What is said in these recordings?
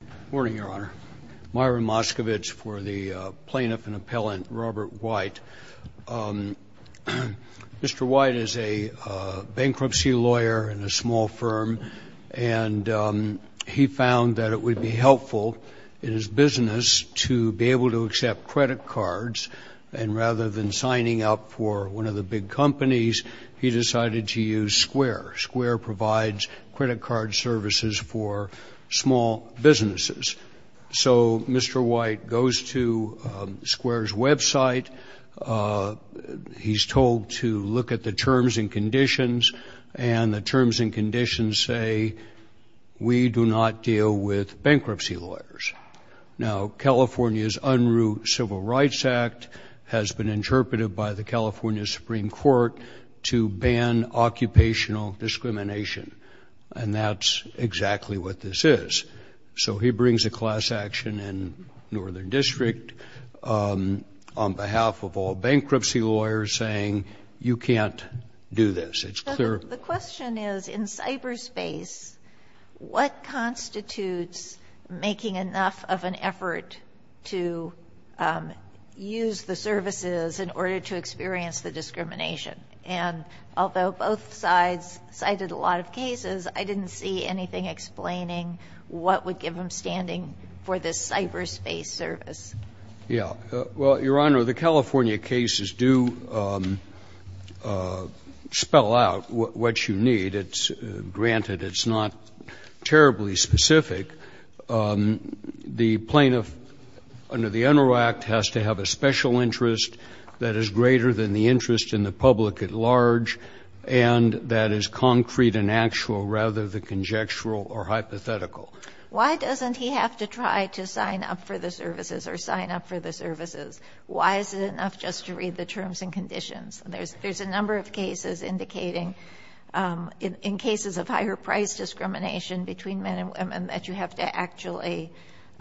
Good morning, Your Honor. Myron Moskovitz for the plaintiff and appellant Robert White. Mr. White is a bankruptcy lawyer in a small firm and he found that it would be helpful in his business to be able to accept credit cards, and rather than signing up for one of the big companies, he decided to use Square. Square provides credit card services for small businesses. So Mr. White goes to Square's website, he's told to look at the terms and conditions, and the terms and conditions say, we do not deal with bankruptcy lawyers. Now, California's Unruh Civil Rights Act has been interpreted by the California Supreme Court to ban occupational discrimination, and that's exactly what this is. So he brings a class action in Northern District on behalf of all bankruptcy lawyers saying, you can't do this. It's clear. The question is, in cyberspace, what constitutes making enough of an effort to use the services in order to experience the discrimination? And although both sides cited a lot of cases, I didn't see anything explaining what would give them standing for this cyberspace service. Yeah. Well, Your Honor, the California cases do spell out what you need. It's granted it's not terribly specific. The plaintiff under the Unruh Act has to have a special interest that is greater than the interest in the public at large, and that is concrete and actual rather than conjectural or hypothetical. Why doesn't he have to try to sign up for the services or sign up for the services? Why is it enough just to read the terms and conditions? There's a number of cases indicating in cases of higher price discrimination between men and women that you have to actually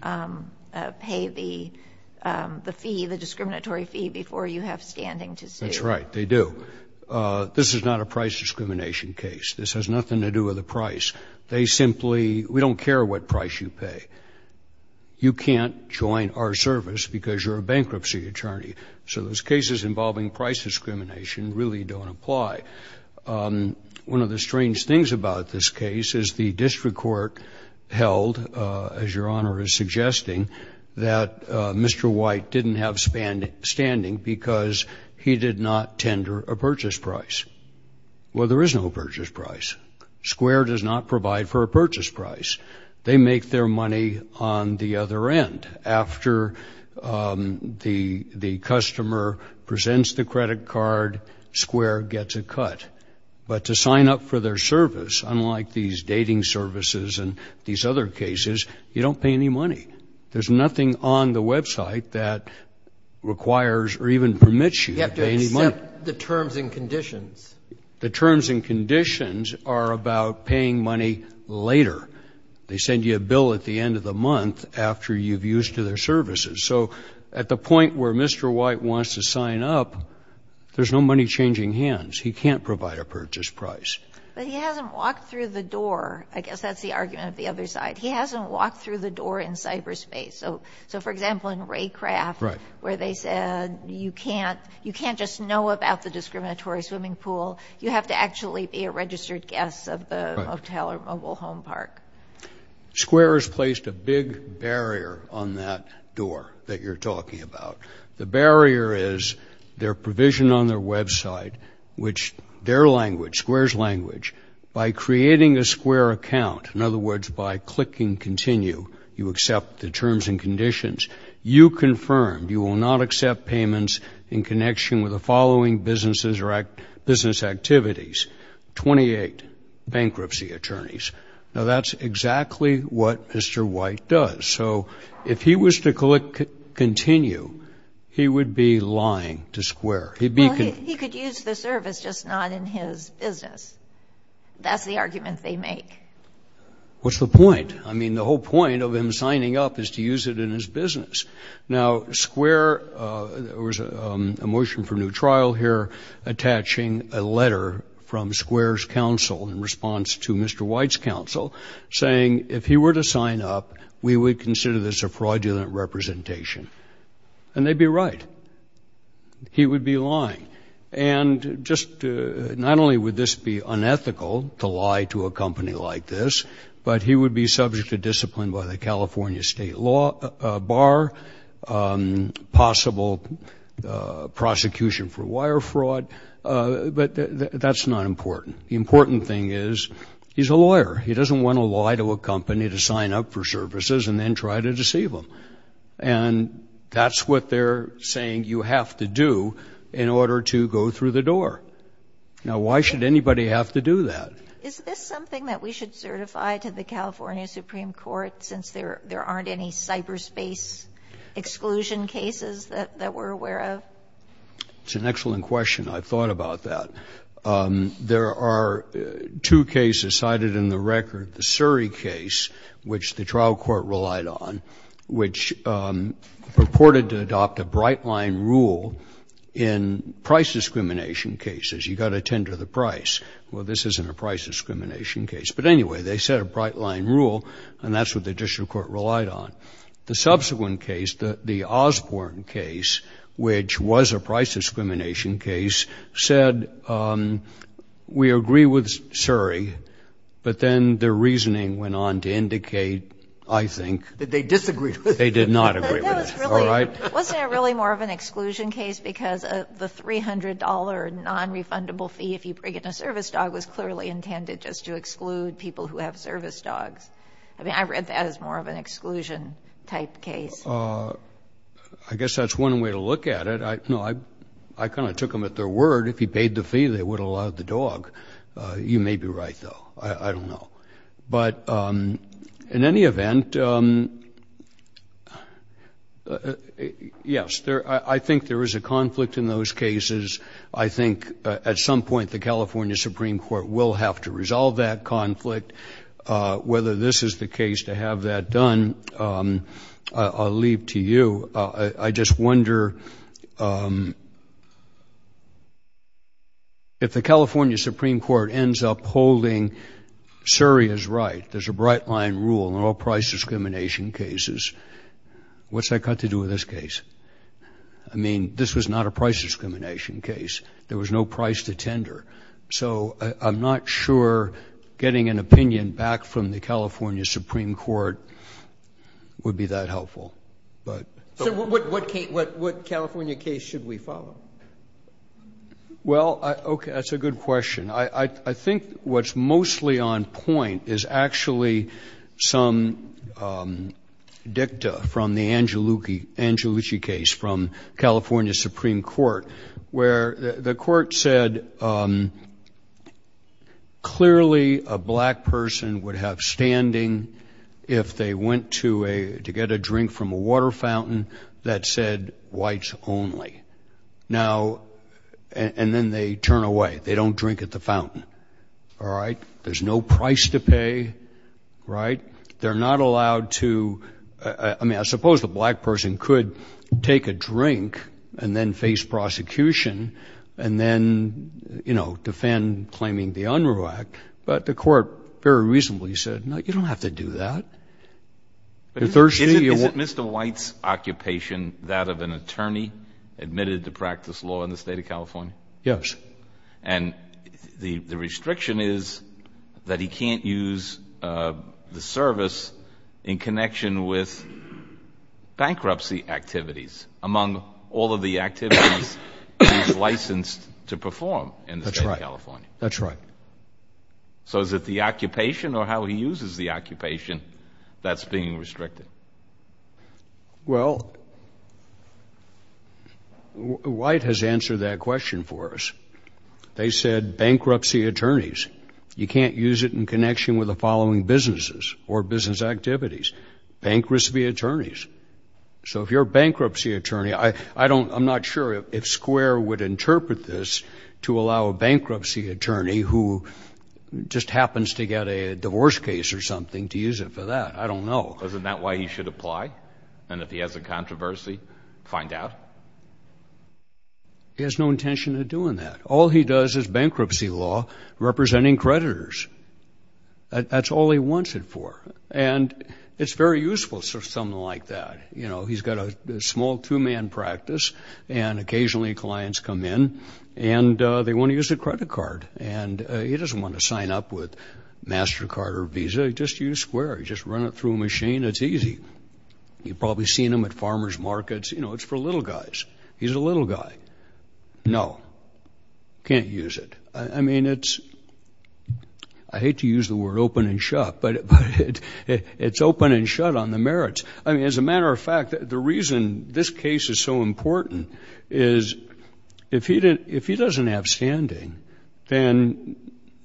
pay the fee, the discriminatory fee, before you have standing to sue. That's right. They do. This is not a price discrimination case. This has nothing to do with the price. They simply, we don't care what price you pay. You can't join our service because you're a bankruptcy attorney. So those cases involving price discrimination really don't apply. One of the strange things about this case is the district court held, as Your Honor is suggesting, that Mr. White didn't have standing because he did not tender a purchase price. Well, there is no purchase price. Square does not provide for a purchase price. They make their money on the other end. After the customer presents the credit card, Square gets a cut. But to sign up for their service, unlike these dating services and these other cases, you don't pay any money. There's nothing on the website that requires or even permits you to pay any money. You have to accept the terms and conditions. The terms and conditions are about paying money later. They send you a bill at the end of the month after you've used their services. So at the point where Mr. White wants to sign up, there's no money changing hands. He can't provide a purchase price. But he hasn't walked through the door. I guess that's the argument of the other side. He hasn't walked through the door in cyberspace. So, for example, in Raycraft, where they said you can't just know about the discriminatory swimming pool, you have to actually be a registered guest of the motel or mobile home park. Square has placed a big barrier on that door that you're talking about. The barrier is their provision on their website, which their language, Square's language, by creating a Square account, in other words, by clicking continue, you accept the terms and conditions. You confirm you will not accept payments in connection with the following businesses or business activities, 28 bankruptcy attorneys. Now, that's exactly what Mr. White does. So if he was to click continue, he would be lying to Square. Well, he could use the service, just not in his business. That's the argument they make. What's the point? I mean, the whole point of him signing up is to use it in his business. Now, Square, there was a motion for new trial here attaching a letter from Square's counsel in response to Mr. White's counsel saying if he were to sign up, we would consider this a fraudulent representation. And they'd be right. He would be lying. And just not only would this be unethical to lie to a company like this, but he would be subject to discipline by the California State Bar, possible prosecution for wire fraud. But that's not important. The important thing is he's a lawyer. He doesn't want to lie to a company to sign up for services and then try to deceive them. And that's what they're saying you have to do in order to go through the door. Now, why should anybody have to do that? Is this something that we should certify to the California Supreme Court since there aren't any cyberspace exclusion cases that we're aware of? It's an excellent question. I thought about that. There are two cases cited in the record. The Surrey case, which the trial court relied on, which purported to adopt a bright-line rule in price discrimination cases. You've got to tender the price. Well, this isn't a price discrimination case. But anyway, they set a bright-line rule, and that's what the district court relied on. The subsequent case, the Osborne case, which was a price discrimination case, said, we agree with Surrey. But then their reasoning went on to indicate, I think... That they disagreed with it. They did not agree with it. Wasn't it really more of an exclusion case because the $300 non-refundable fee if you bring in a service dog was clearly intended just to exclude people who have service dogs? I mean, I read that as more of an exclusion-type case. I guess that's one way to look at it. No, I kind of took them at their word. If he paid the fee, they would have allowed the dog. You may be right, though. I don't know. But in any event, yes, I think there is a conflict in those cases. I think at some point the California Supreme Court will have to resolve that conflict. Whether this is the case to have that done, I'll leave to you. I just wonder... If the California Supreme Court ends up holding Surrey is right, there's a bright line rule in all price discrimination cases, what's that got to do with this case? I mean, this was not a price discrimination case. There was no price to tender. So I'm not sure getting an opinion back from the Supreme Court would be that helpful. So what California case should we follow? Well, okay, that's a good question. I think what's mostly on point is actually some dicta from the Angelucci case from California Supreme Court where the court said clearly a black person would have standing if they went to get a drink from a water fountain that said whites only. Now, and then they turn away. They don't drink at the fountain. All right? There's no price to pay, right? They're not allowed to... I mean, I suppose the black person could take a drink and then face prosecution and then defend claiming the Unruh Act, but the court very reasonably said, no, you don't have to do that. Is it Mr. White's occupation, that of an attorney admitted to practice law in the state of California? Yes. And the restriction is that he can't use the service in connection with bankruptcy activities among all of the activities he's licensed to perform in the state of California. That's right. That's right. So is it the occupation or how he uses the occupation that's being restricted? Well, White has answered that question for us. They said bankruptcy attorneys. You can't use it in connection with the following businesses or business activities. Bankruptcy attorneys. So if you're a bankruptcy attorney, I don't... I'm not sure if Square would interpret this to allow a bankruptcy attorney who just happens to get a divorce case or something to use it for that. I don't know. Isn't that why he should apply? And if he has a controversy, find out? He has no intention of doing that. All he does is bankruptcy law representing creditors. That's all he wants it for. And it's very useful for someone like that. You know, he's got a small two-man practice and occasionally clients come in and they want to use the credit card. And he doesn't want to sign up with MasterCard or Visa. Just use Square. Just run it through a machine. It's easy. You've probably seen them at farmers markets. You know, it's for little guys. He's a little guy. No. Can't use it. I mean, it's... I hate to use the word open and shut, but it's open and shut on the merits. I mean, as a matter of fact, the reason this case is so important is if he doesn't have a standing, then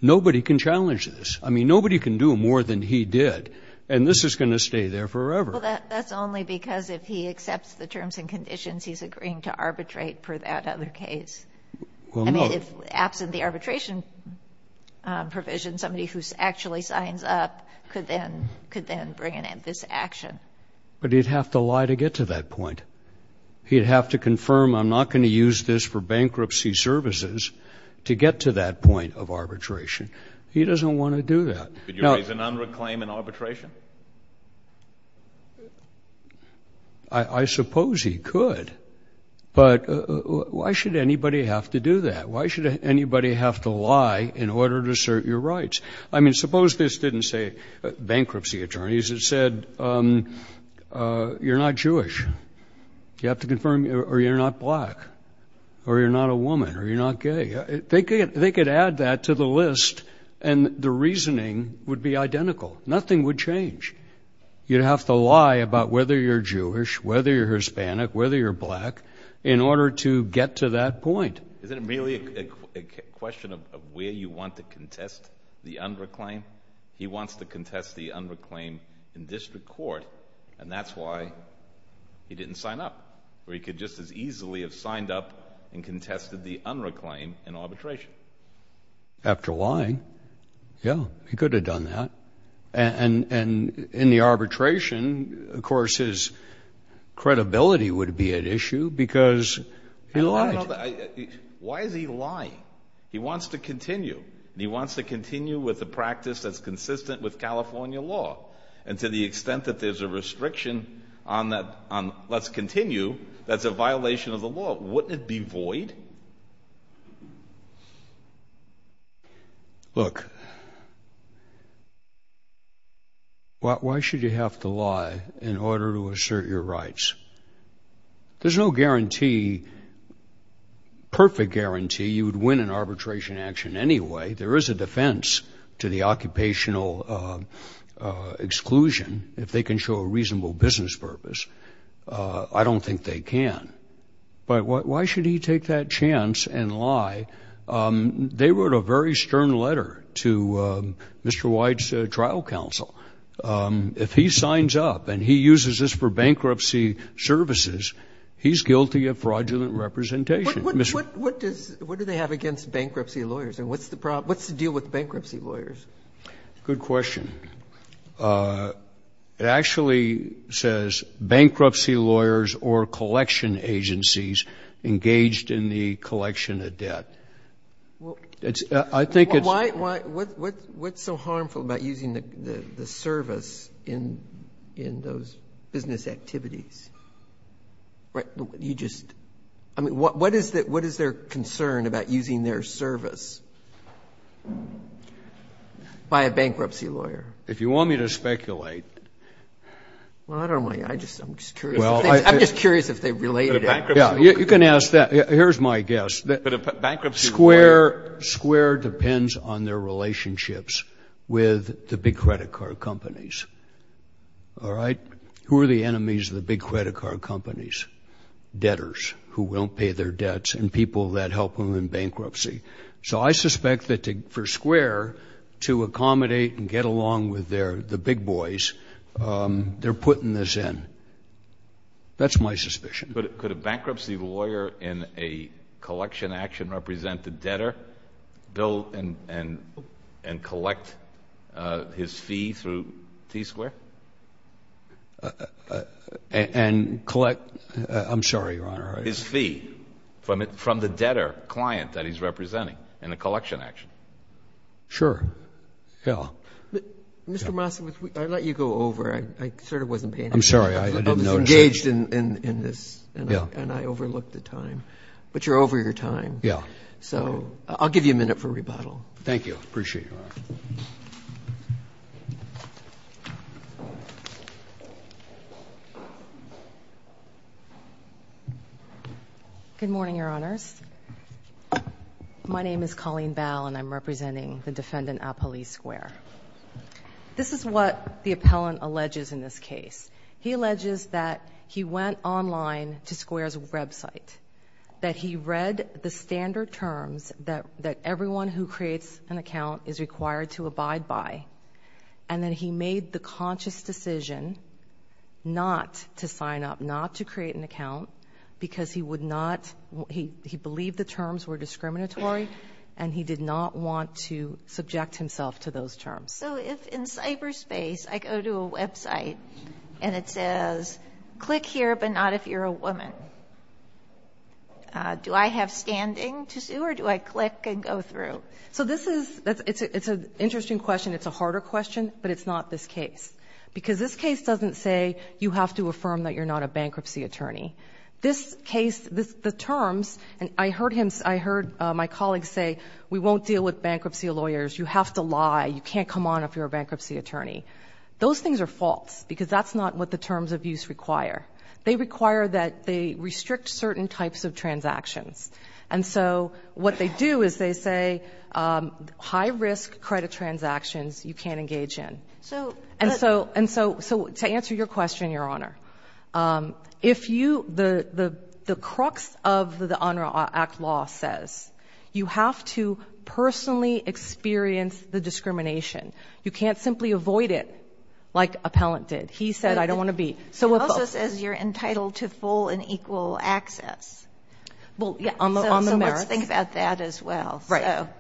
nobody can challenge this. I mean, nobody can do more than he did. And this is going to stay there forever. Well, that's only because if he accepts the terms and conditions, he's agreeing to arbitrate for that other case. I mean, if absent the arbitration provision, somebody who actually signs up could then bring in this action. But he'd have to lie to get to that point. He'd have to confirm, I'm not going to use this for bankruptcy services to get to that point of arbitration. He doesn't want to do that. Could you raise a nonreclaim in arbitration? I suppose he could. But why should anybody have to do that? Why should anybody have to lie in order to assert your rights? I mean, suppose this didn't say bankruptcy attorneys. It said you're not Jewish. You have to confirm, or you're not black, or you're not a woman, or you're not gay. They could add that to the list, and the reasoning would be identical. Nothing would change. You'd have to lie about whether you're Jewish, whether you're Hispanic, whether you're black in order to get to that point. Isn't it really a question of where you want to contest the unreclaim? He wants to contest the unreclaim in district court, and that's why he didn't sign up, or he could just as easily have signed up and contested the unreclaim in arbitration. After lying, yeah, he could have done that. And in the arbitration, of course, his credibility would be at issue because he lied. Why is he lying? He wants to continue, and he wants to continue with the practice that's consistent with California law. And to the extent that there's a restriction on let's continue, that's a violation of the law. Wouldn't it be void? Look, why should you have to lie in order to assert your rights? There's no guarantee, perfect guarantee you would win an arbitration action anyway. There is a defense to the occupational exclusion if they can show a reasonable business purpose. I don't think they can. But why should he take that chance and lie? They wrote a very stern letter to Mr. White's trial counsel. If he signs up and he uses this for bankruptcy services, he's guilty of fraudulent representation. What does they have against bankruptcy lawyers? And what's the deal with bankruptcy lawyers? Good question. It actually says bankruptcy lawyers or collection agencies engaged in the collection of debt. What's so harmful about using the service in those business activities? I mean, what is their concern about using their service by a bankruptcy lawyer? If you want me to speculate. Well, I don't want you to. I'm just curious. I'm just curious if they related it. You can ask that. Here's my guess. Square depends on their relationships with the big credit card companies. All right? Who are the enemies of the big credit card companies? Debtors who don't pay their debts and people that help them in bankruptcy. So I suspect that for Square to accommodate and get along with the big boys, they're putting this in. That's my suspicion. Could a bankruptcy lawyer in a collection action represent the debtor, Bill, and collect his fee through T-Square? I'm sorry, Your Honor. His fee from the debtor client that he's representing in a collection action. Sure. Yeah. Mr. Massa, I let you go over. I sort of wasn't paying attention. I'm sorry. I was engaged in this, and I overlooked the time. But you're over your time. Yeah. So I'll give you a minute for rebuttal. Thank you. I appreciate it. Good morning, Your Honors. My name is Colleen Bell, and I'm representing the defendant at Police Square. This is what the appellant alleges in this case. He alleges that he went online to Square's website, that he read the standard terms that everyone who creates an account is required to abide by, and that he made the conscious decision not to sign up, not to create an account, because he would not he believed the terms were discriminatory, and he did not want to subject himself to those terms. So if in cyberspace I go to a website and it says, click here, but not if you're a woman, do I have standing to sue, or do I click and go through? So this is an interesting question. It's a harder question, but it's not this case, because this case doesn't say you have to affirm that you're not a bankruptcy attorney. This case, the terms, and I heard my colleagues say, we won't deal with bankruptcy lawyers. You have to lie. You can't come on if you're a bankruptcy attorney. Those things are false, because that's not what the terms of use require. They require that they restrict certain types of transactions. And so what they do is they say high-risk credit transactions you can't engage in. And so to answer your question, Your Honor, the crux of the UNRWA Act law says you have to personally experience the discrimination. You can't simply avoid it like appellant did. He said, I don't want to be. It also says you're entitled to full and equal access. Well, yeah, on the merit. So let's think about that as well.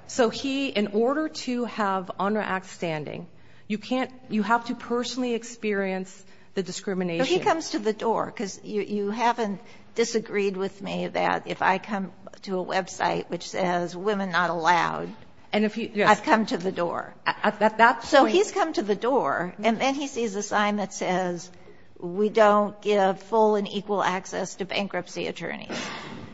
So he, in order to have UNRWA Act standing, you have to personally experience the discrimination. But he comes to the door. Because you haven't disagreed with me that if I come to a website which says women not allowed, I've come to the door. So he's come to the door, and then he sees a sign that says we don't give full and equal access to bankruptcy attorneys.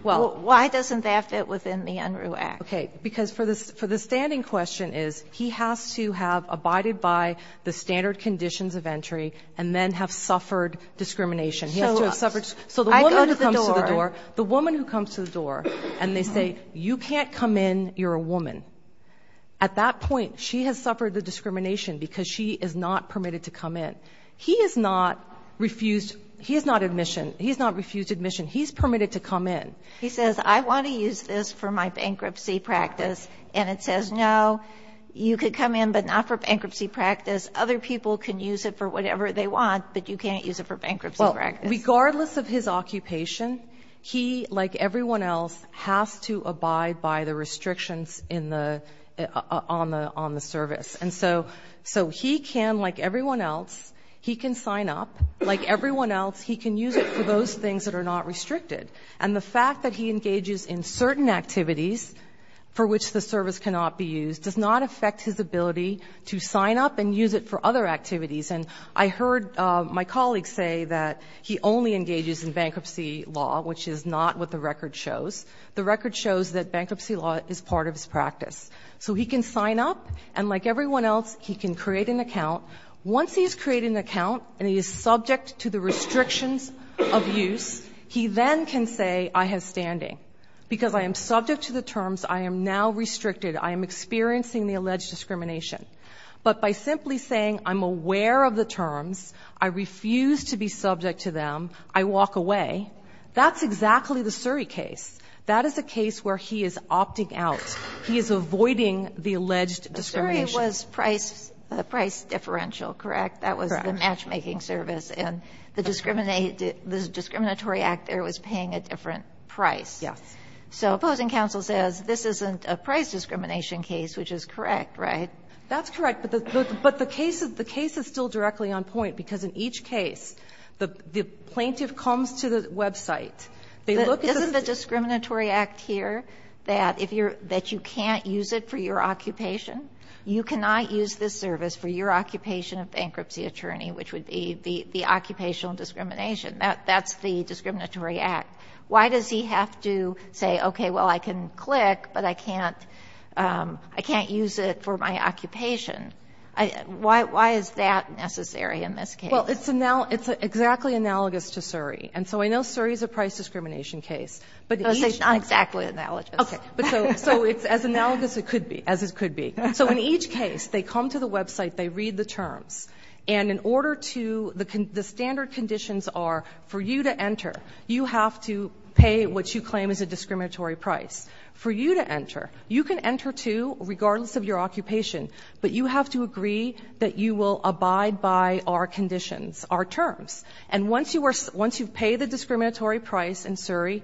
Why doesn't that fit within the UNRWA Act? Okay. Because for the standing question is he has to have abided by the standard conditions of entry and then have suffered discrimination. So the woman who comes to the door, and they say, you can't come in, you're a woman. At that point, she has suffered the discrimination because she is not permitted to come in. He is not refused admission. He's permitted to come in. He says, I want to use this for my bankruptcy practice. And it says, no, you could come in, but not for bankruptcy practice. Other people can use it for whatever they want, but you can't use it for bankruptcy practice. Well, regardless of his occupation, he, like everyone else, has to abide by the restrictions in the ‑‑ on the service. And so he can, like everyone else, he can sign up. Like everyone else, he can use it for those things that are not restricted. And the fact that he engages in certain activities for which the service cannot be used does not affect his ability to sign up and use it for other activities. And I heard my colleague say that he only engages in bankruptcy law, which is not what the record shows. The record shows that bankruptcy law is part of his practice. So he can sign up, and like everyone else, he can create an account. Once he has created an account and he is subject to the restrictions of use, he then can say, I have standing. Because I am subject to the terms, I am now restricted. I am experiencing the alleged discrimination. But by simply saying, I'm aware of the terms, I refuse to be subject to them, I walk away, that's exactly the Surrey case. That is a case where he is opting out. He is avoiding the alleged discrimination. The Surrey was price differential, correct? Correct. That was the matchmaking service, and the discriminatory act there was paying a different price. Yes. So opposing counsel says this isn't a price discrimination case, which is correct, right? That's correct, but the case is still directly on point, because in each case, the plaintiff comes to the website. Isn't the discriminatory act here that you can't use it for your occupation? You cannot use this service for your occupation of bankruptcy attorney, which would be the occupational discrimination. That's the discriminatory act. Why does he have to say, okay, well, I can click, but I can't use it for my occupation? Why is that necessary in this case? Well, it's exactly analogous to Surrey. And so I know Surrey is a price discrimination case. No, it's not exactly analogous. Okay. So it's as analogous as it could be. And in order to the standard conditions are for you to enter, you have to pay what you claim is a discriminatory price for you to enter. You can enter, too, regardless of your occupation. But you have to agree that you will abide by our conditions, our terms. And once you pay the discriminatory price in Surrey,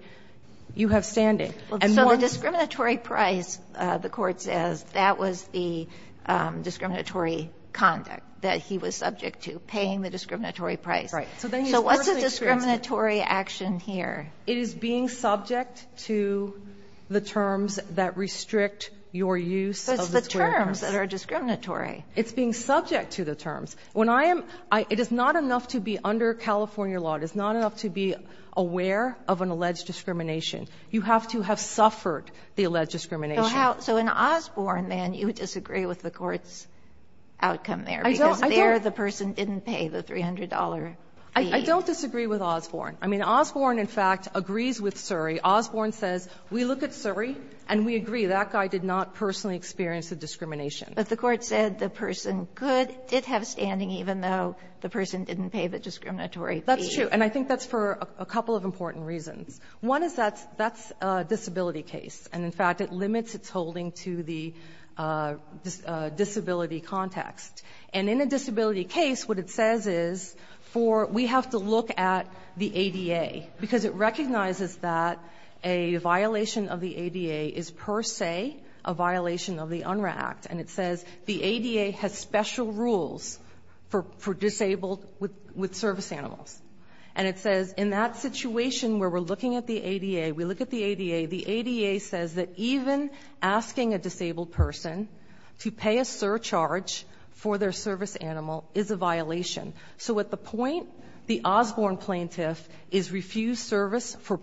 you have standing. So the discriminatory price, the court says, that was the discriminatory conduct that he was subject to, paying the discriminatory price. Right. So what's the discriminatory action here? It is being subject to the terms that restrict your use of the claims. But it's the terms that are discriminatory. It's being subject to the terms. When I am ‑‑ it is not enough to be under California law. It is not enough to be aware of an alleged discrimination. You have to have suffered the alleged discrimination. So how ‑‑ so in Osborne, then, you disagree with the Court's outcome there. I don't. Because there the person didn't pay the $300 fee. I don't disagree with Osborne. I mean, Osborne, in fact, agrees with Surrey. Osborne says, we look at Surrey and we agree that guy did not personally experience a discrimination. But the Court said the person could ‑‑ did have standing even though the person didn't pay the discriminatory fee. That's true. And I think that's for a couple of important reasons. One is that's a disability case. And in fact, it limits its holding to the disability context. And in a disability case, what it says is for ‑‑ we have to look at the ADA. Because it recognizes that a violation of the ADA is per se a violation of the UNRRA Act. And it says the ADA has special rules for disabled with service animals. And it says in that situation where we're looking at the ADA, we look at the ADA, the ADA says that even asking a disabled person to pay a surcharge for their service animal is a violation. So at the point the Osborne plaintiff is refused service for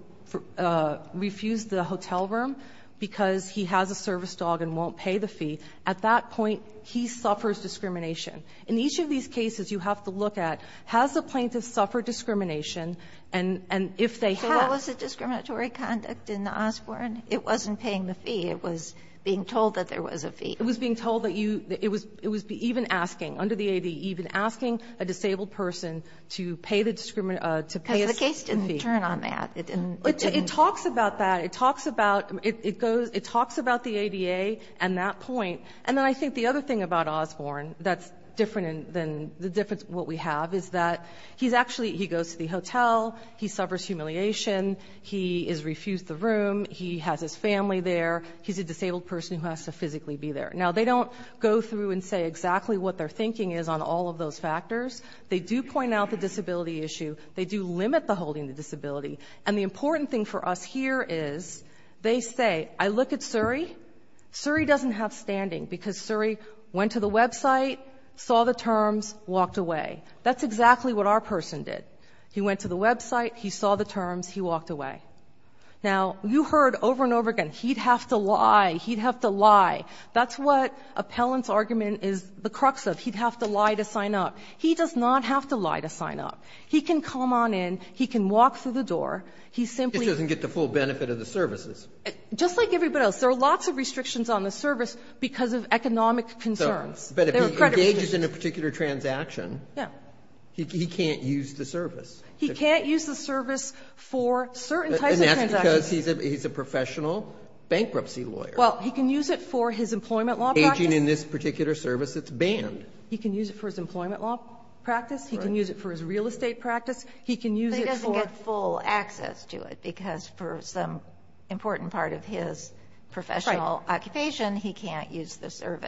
‑‑ refused the hotel room because he has a service dog and won't pay the fee, at that point, he suffers discrimination. In each of these cases, you have to look at, has the plaintiff suffered discrimination? And if they have ‑‑ So that was a discriminatory conduct in the Osborne? It wasn't paying the fee. It was being told that there was a fee. It was being told that you ‑‑ it was even asking, under the ADA, even asking a disabled person to pay a fee. Because the case didn't turn on that. It didn't ‑‑ It talks about that. It talks about ‑‑ it goes ‑‑ it talks about the ADA and that point. And then I think the other thing about Osborne that's different than the difference what we have is that he's actually ‑‑ he goes to the hotel. He suffers humiliation. He is refused the room. He has his family there. He's a disabled person who has to physically be there. Now, they don't go through and say exactly what their thinking is on all of those factors. They do point out the disability issue. They do limit the holding the disability. And the important thing for us here is they say, I look at Suri. Suri doesn't have standing because Suri went to the website, saw the terms, walked away. That's exactly what our person did. He went to the website. He saw the terms. He walked away. Now, you heard over and over again, he'd have to lie. He'd have to lie. That's what appellant's argument is the crux of. He'd have to lie to sign up. He does not have to lie to sign up. He can come on in. He can walk through the door. He simply ‑‑ He just doesn't get the full benefit of the services. Just like everybody else. There are lots of restrictions on the service because of economic concerns. But if he engages in a particular transaction, he can't use the service. He can't use the service for certain types of transactions. And that's because he's a professional bankruptcy lawyer. Well, he can use it for his employment law practice. Aging in this particular service, it's banned. He can use it for his employment law practice. He can use it for his real estate practice. He can use it for ‑‑ Right.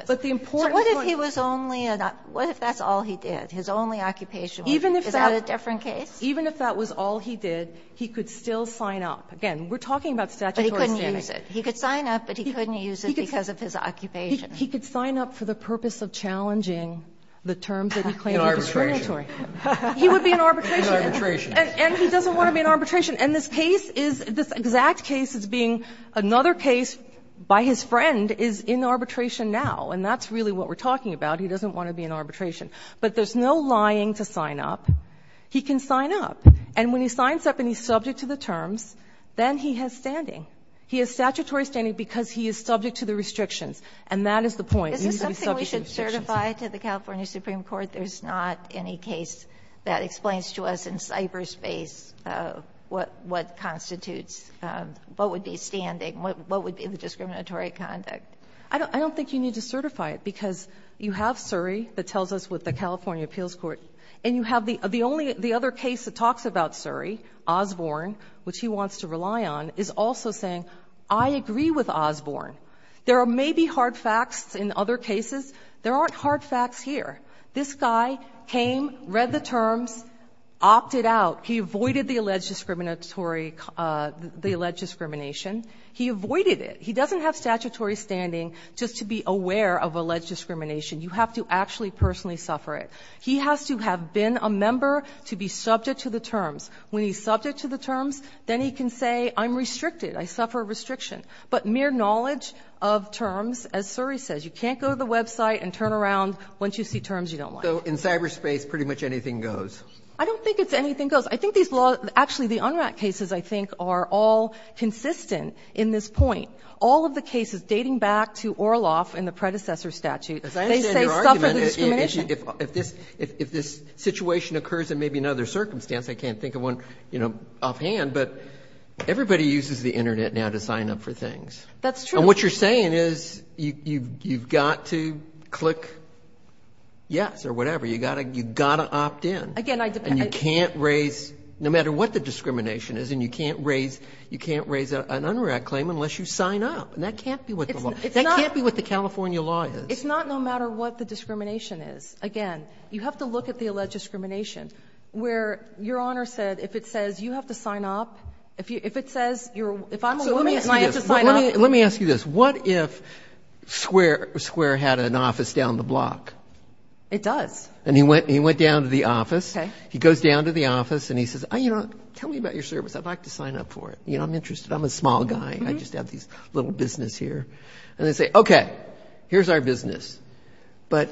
But the important point ‑‑ So what if he was only a ‑‑ what if that's all he did? His only occupation was ‑‑ Even if that ‑‑ Is that a different case? Even if that was all he did, he could still sign up. Again, we're talking about statutory standing. But he couldn't use it. He could sign up, but he couldn't use it because of his occupation. He could sign up for the purpose of challenging the terms that he claims are discriminatory. He would be in arbitration. He would be in arbitration. And he doesn't want to be in arbitration. And this case is ‑‑ this exact case is being another case by his friend is in arbitration now. And that's really what we're talking about. He doesn't want to be in arbitration. But there's no lying to sign up. He can sign up. And when he signs up and he's subject to the terms, then he has standing. He has statutory standing because he is subject to the restrictions. And that is the point. He needs to be subject to the restrictions. Is this something we should certify to the California Supreme Court? But there's not any case that explains to us in cyberspace what constitutes, what would be standing, what would be the discriminatory conduct. I don't think you need to certify it because you have Surrey that tells us what the California appeals court. And you have the only ‑‑ the other case that talks about Surrey, Osborne, which he wants to rely on, is also saying, I agree with Osborne. There may be hard facts in other cases. There aren't hard facts here. This guy came, read the terms, opted out. He avoided the alleged discriminatory ‑‑ the alleged discrimination. He avoided it. He doesn't have statutory standing just to be aware of alleged discrimination. You have to actually personally suffer it. He has to have been a member to be subject to the terms. When he's subject to the terms, then he can say, I'm restricted. I suffer restriction. But mere knowledge of terms, as Surrey says, you can't go to the website and turn around once you see terms you don't like. So in cyberspace, pretty much anything goes? I don't think it's anything goes. I think these law ‑‑ actually, the unrack cases, I think, are all consistent in this point. All of the cases dating back to Orloff in the predecessor statute, they say suffer the discrimination. If this situation occurs in maybe another circumstance, I can't think of one, you know, offhand, but everybody uses the Internet now to sign up for things. That's true. And what you're saying is you've got to click yes or whatever. You've got to opt in. Again, I ‑‑ And you can't raise, no matter what the discrimination is, and you can't raise an unrack claim unless you sign up. And that can't be what the law ‑‑ that can't be what the California law is. It's not no matter what the discrimination is. Again, you have to look at the alleged discrimination where your Honor said if it says you have to sign up, if it says you're ‑‑ if I'm a woman and I have to sign up. Let me ask you this. What if Square had an office down the block? It does. And he went down to the office. Okay. He goes down to the office and he says, you know, tell me about your service. I'd like to sign up for it. You know, I'm interested. I'm a small guy. I just have this little business here. And they say, okay, here's our business. But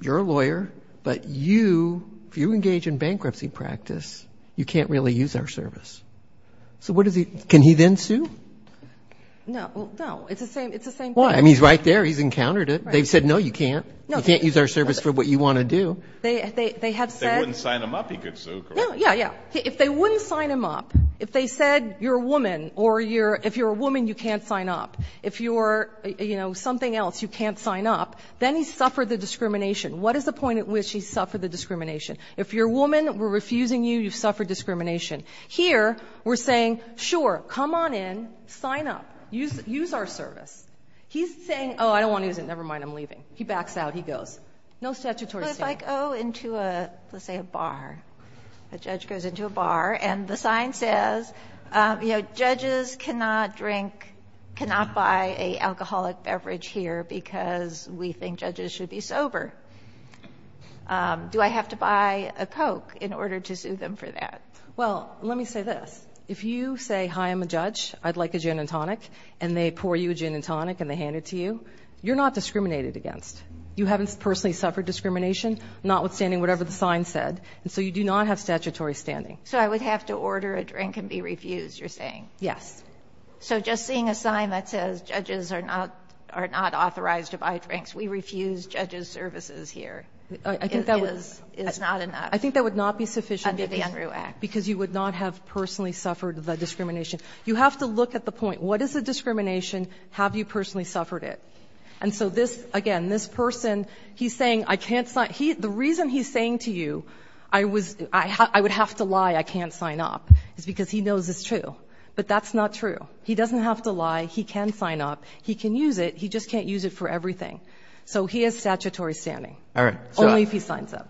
you're a lawyer, but you, if you engage in bankruptcy practice, you can't really use our service. So what does he ‑‑ can he then sue? No. No. It's the same thing. Why? I mean, he's right there. He's encountered it. They've said, no, you can't. You can't use our service for what you want to do. They have said ‑‑ If they wouldn't sign him up, he could sue, correct? Yeah, yeah, yeah. If they wouldn't sign him up, if they said you're a woman or you're ‑‑ if you're a woman, you can't sign up. If you're, you know, something else, you can't sign up. Then he's suffered the discrimination. What is the point at which he's suffered the discrimination? If you're a woman, we're refusing you, you've suffered discrimination. Here, we're saying, sure, come on in. Sign up. Use our service. He's saying, oh, I don't want to use it. Never mind. I'm leaving. He backs out. He goes. No statutory ‑‑ Judges cannot drink, cannot buy an alcoholic beverage here because we think judges should be sober. Do I have to buy a Coke in order to sue them for that? Well, let me say this. If you say, hi, I'm a judge, I'd like a gin and tonic, and they pour you a gin and tonic and they hand it to you, you're not discriminated against. You haven't personally suffered discrimination, notwithstanding whatever the sign said, and so you do not have statutory standing. So I would have to order a drink and be refused, you're saying? Yes. So just seeing a sign that says judges are not authorized to buy drinks, we refuse judges' services here is not enough? I think that would not be sufficient because you would not have personally suffered the discrimination. You have to look at the point. What is the discrimination? Have you personally suffered it? And so this, again, this person, he's saying, I can't sign. The reason he's saying to you, I would have to lie, I can't sign up, is because he knows it's true. But that's not true. He doesn't have to lie. He can sign up. He can use it. He just can't use it for everything. So he has statutory standing. All right. Only if he signs up.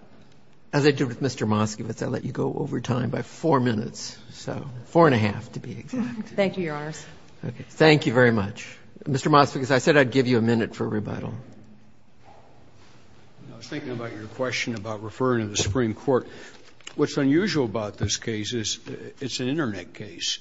As I did with Mr. Moskowitz, I'll let you go over time by four minutes, so four and a half to be exact. Thank you, Your Honors. Okay. Thank you very much. Mr. Moskowitz, I said I'd give you a minute for rebuttal. I was thinking about your question about referring to the Supreme Court. What's unusual about this case is it's an Internet case.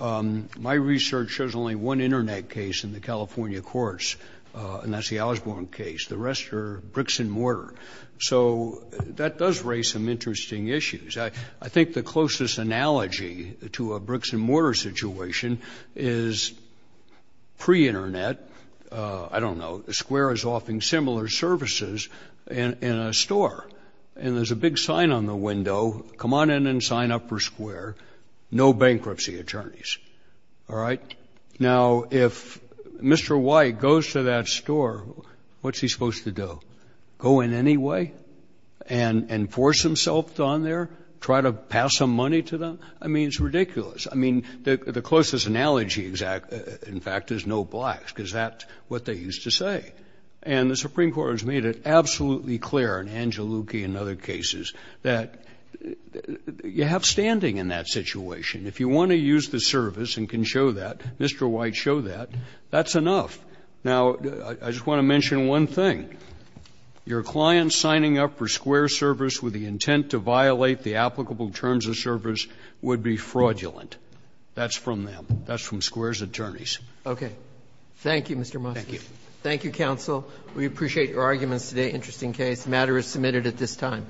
My research shows only one Internet case in the California courts, and that's the Osborne case. The rest are bricks and mortar. So that does raise some interesting issues. I think the closest analogy to a bricks-and-mortar situation is pre-Internet. I don't know. Square is offering similar services in a store, and there's a big sign on the window. Come on in and sign up for Square. No bankruptcy attorneys. All right. Now, if Mr. White goes to that store, what's he supposed to do? Go in anyway and force himself on there? Try to pass some money to them? I mean, it's ridiculous. I mean, the closest analogy, in fact, is no blacks, because that's what they used to say. And the Supreme Court has made it absolutely clear in Angelouki and other cases that you have standing in that situation. If you want to use the service and can show that, Mr. White, show that, that's enough. Now, I just want to mention one thing. Your client signing up for Square's service with the intent to violate the applicable terms of service would be fraudulent. That's from them. That's from Square's attorneys. Okay. Thank you, Mr. Mossberg. Thank you. Thank you, counsel. We appreciate your arguments today. Interesting case. The matter is submitted at this time.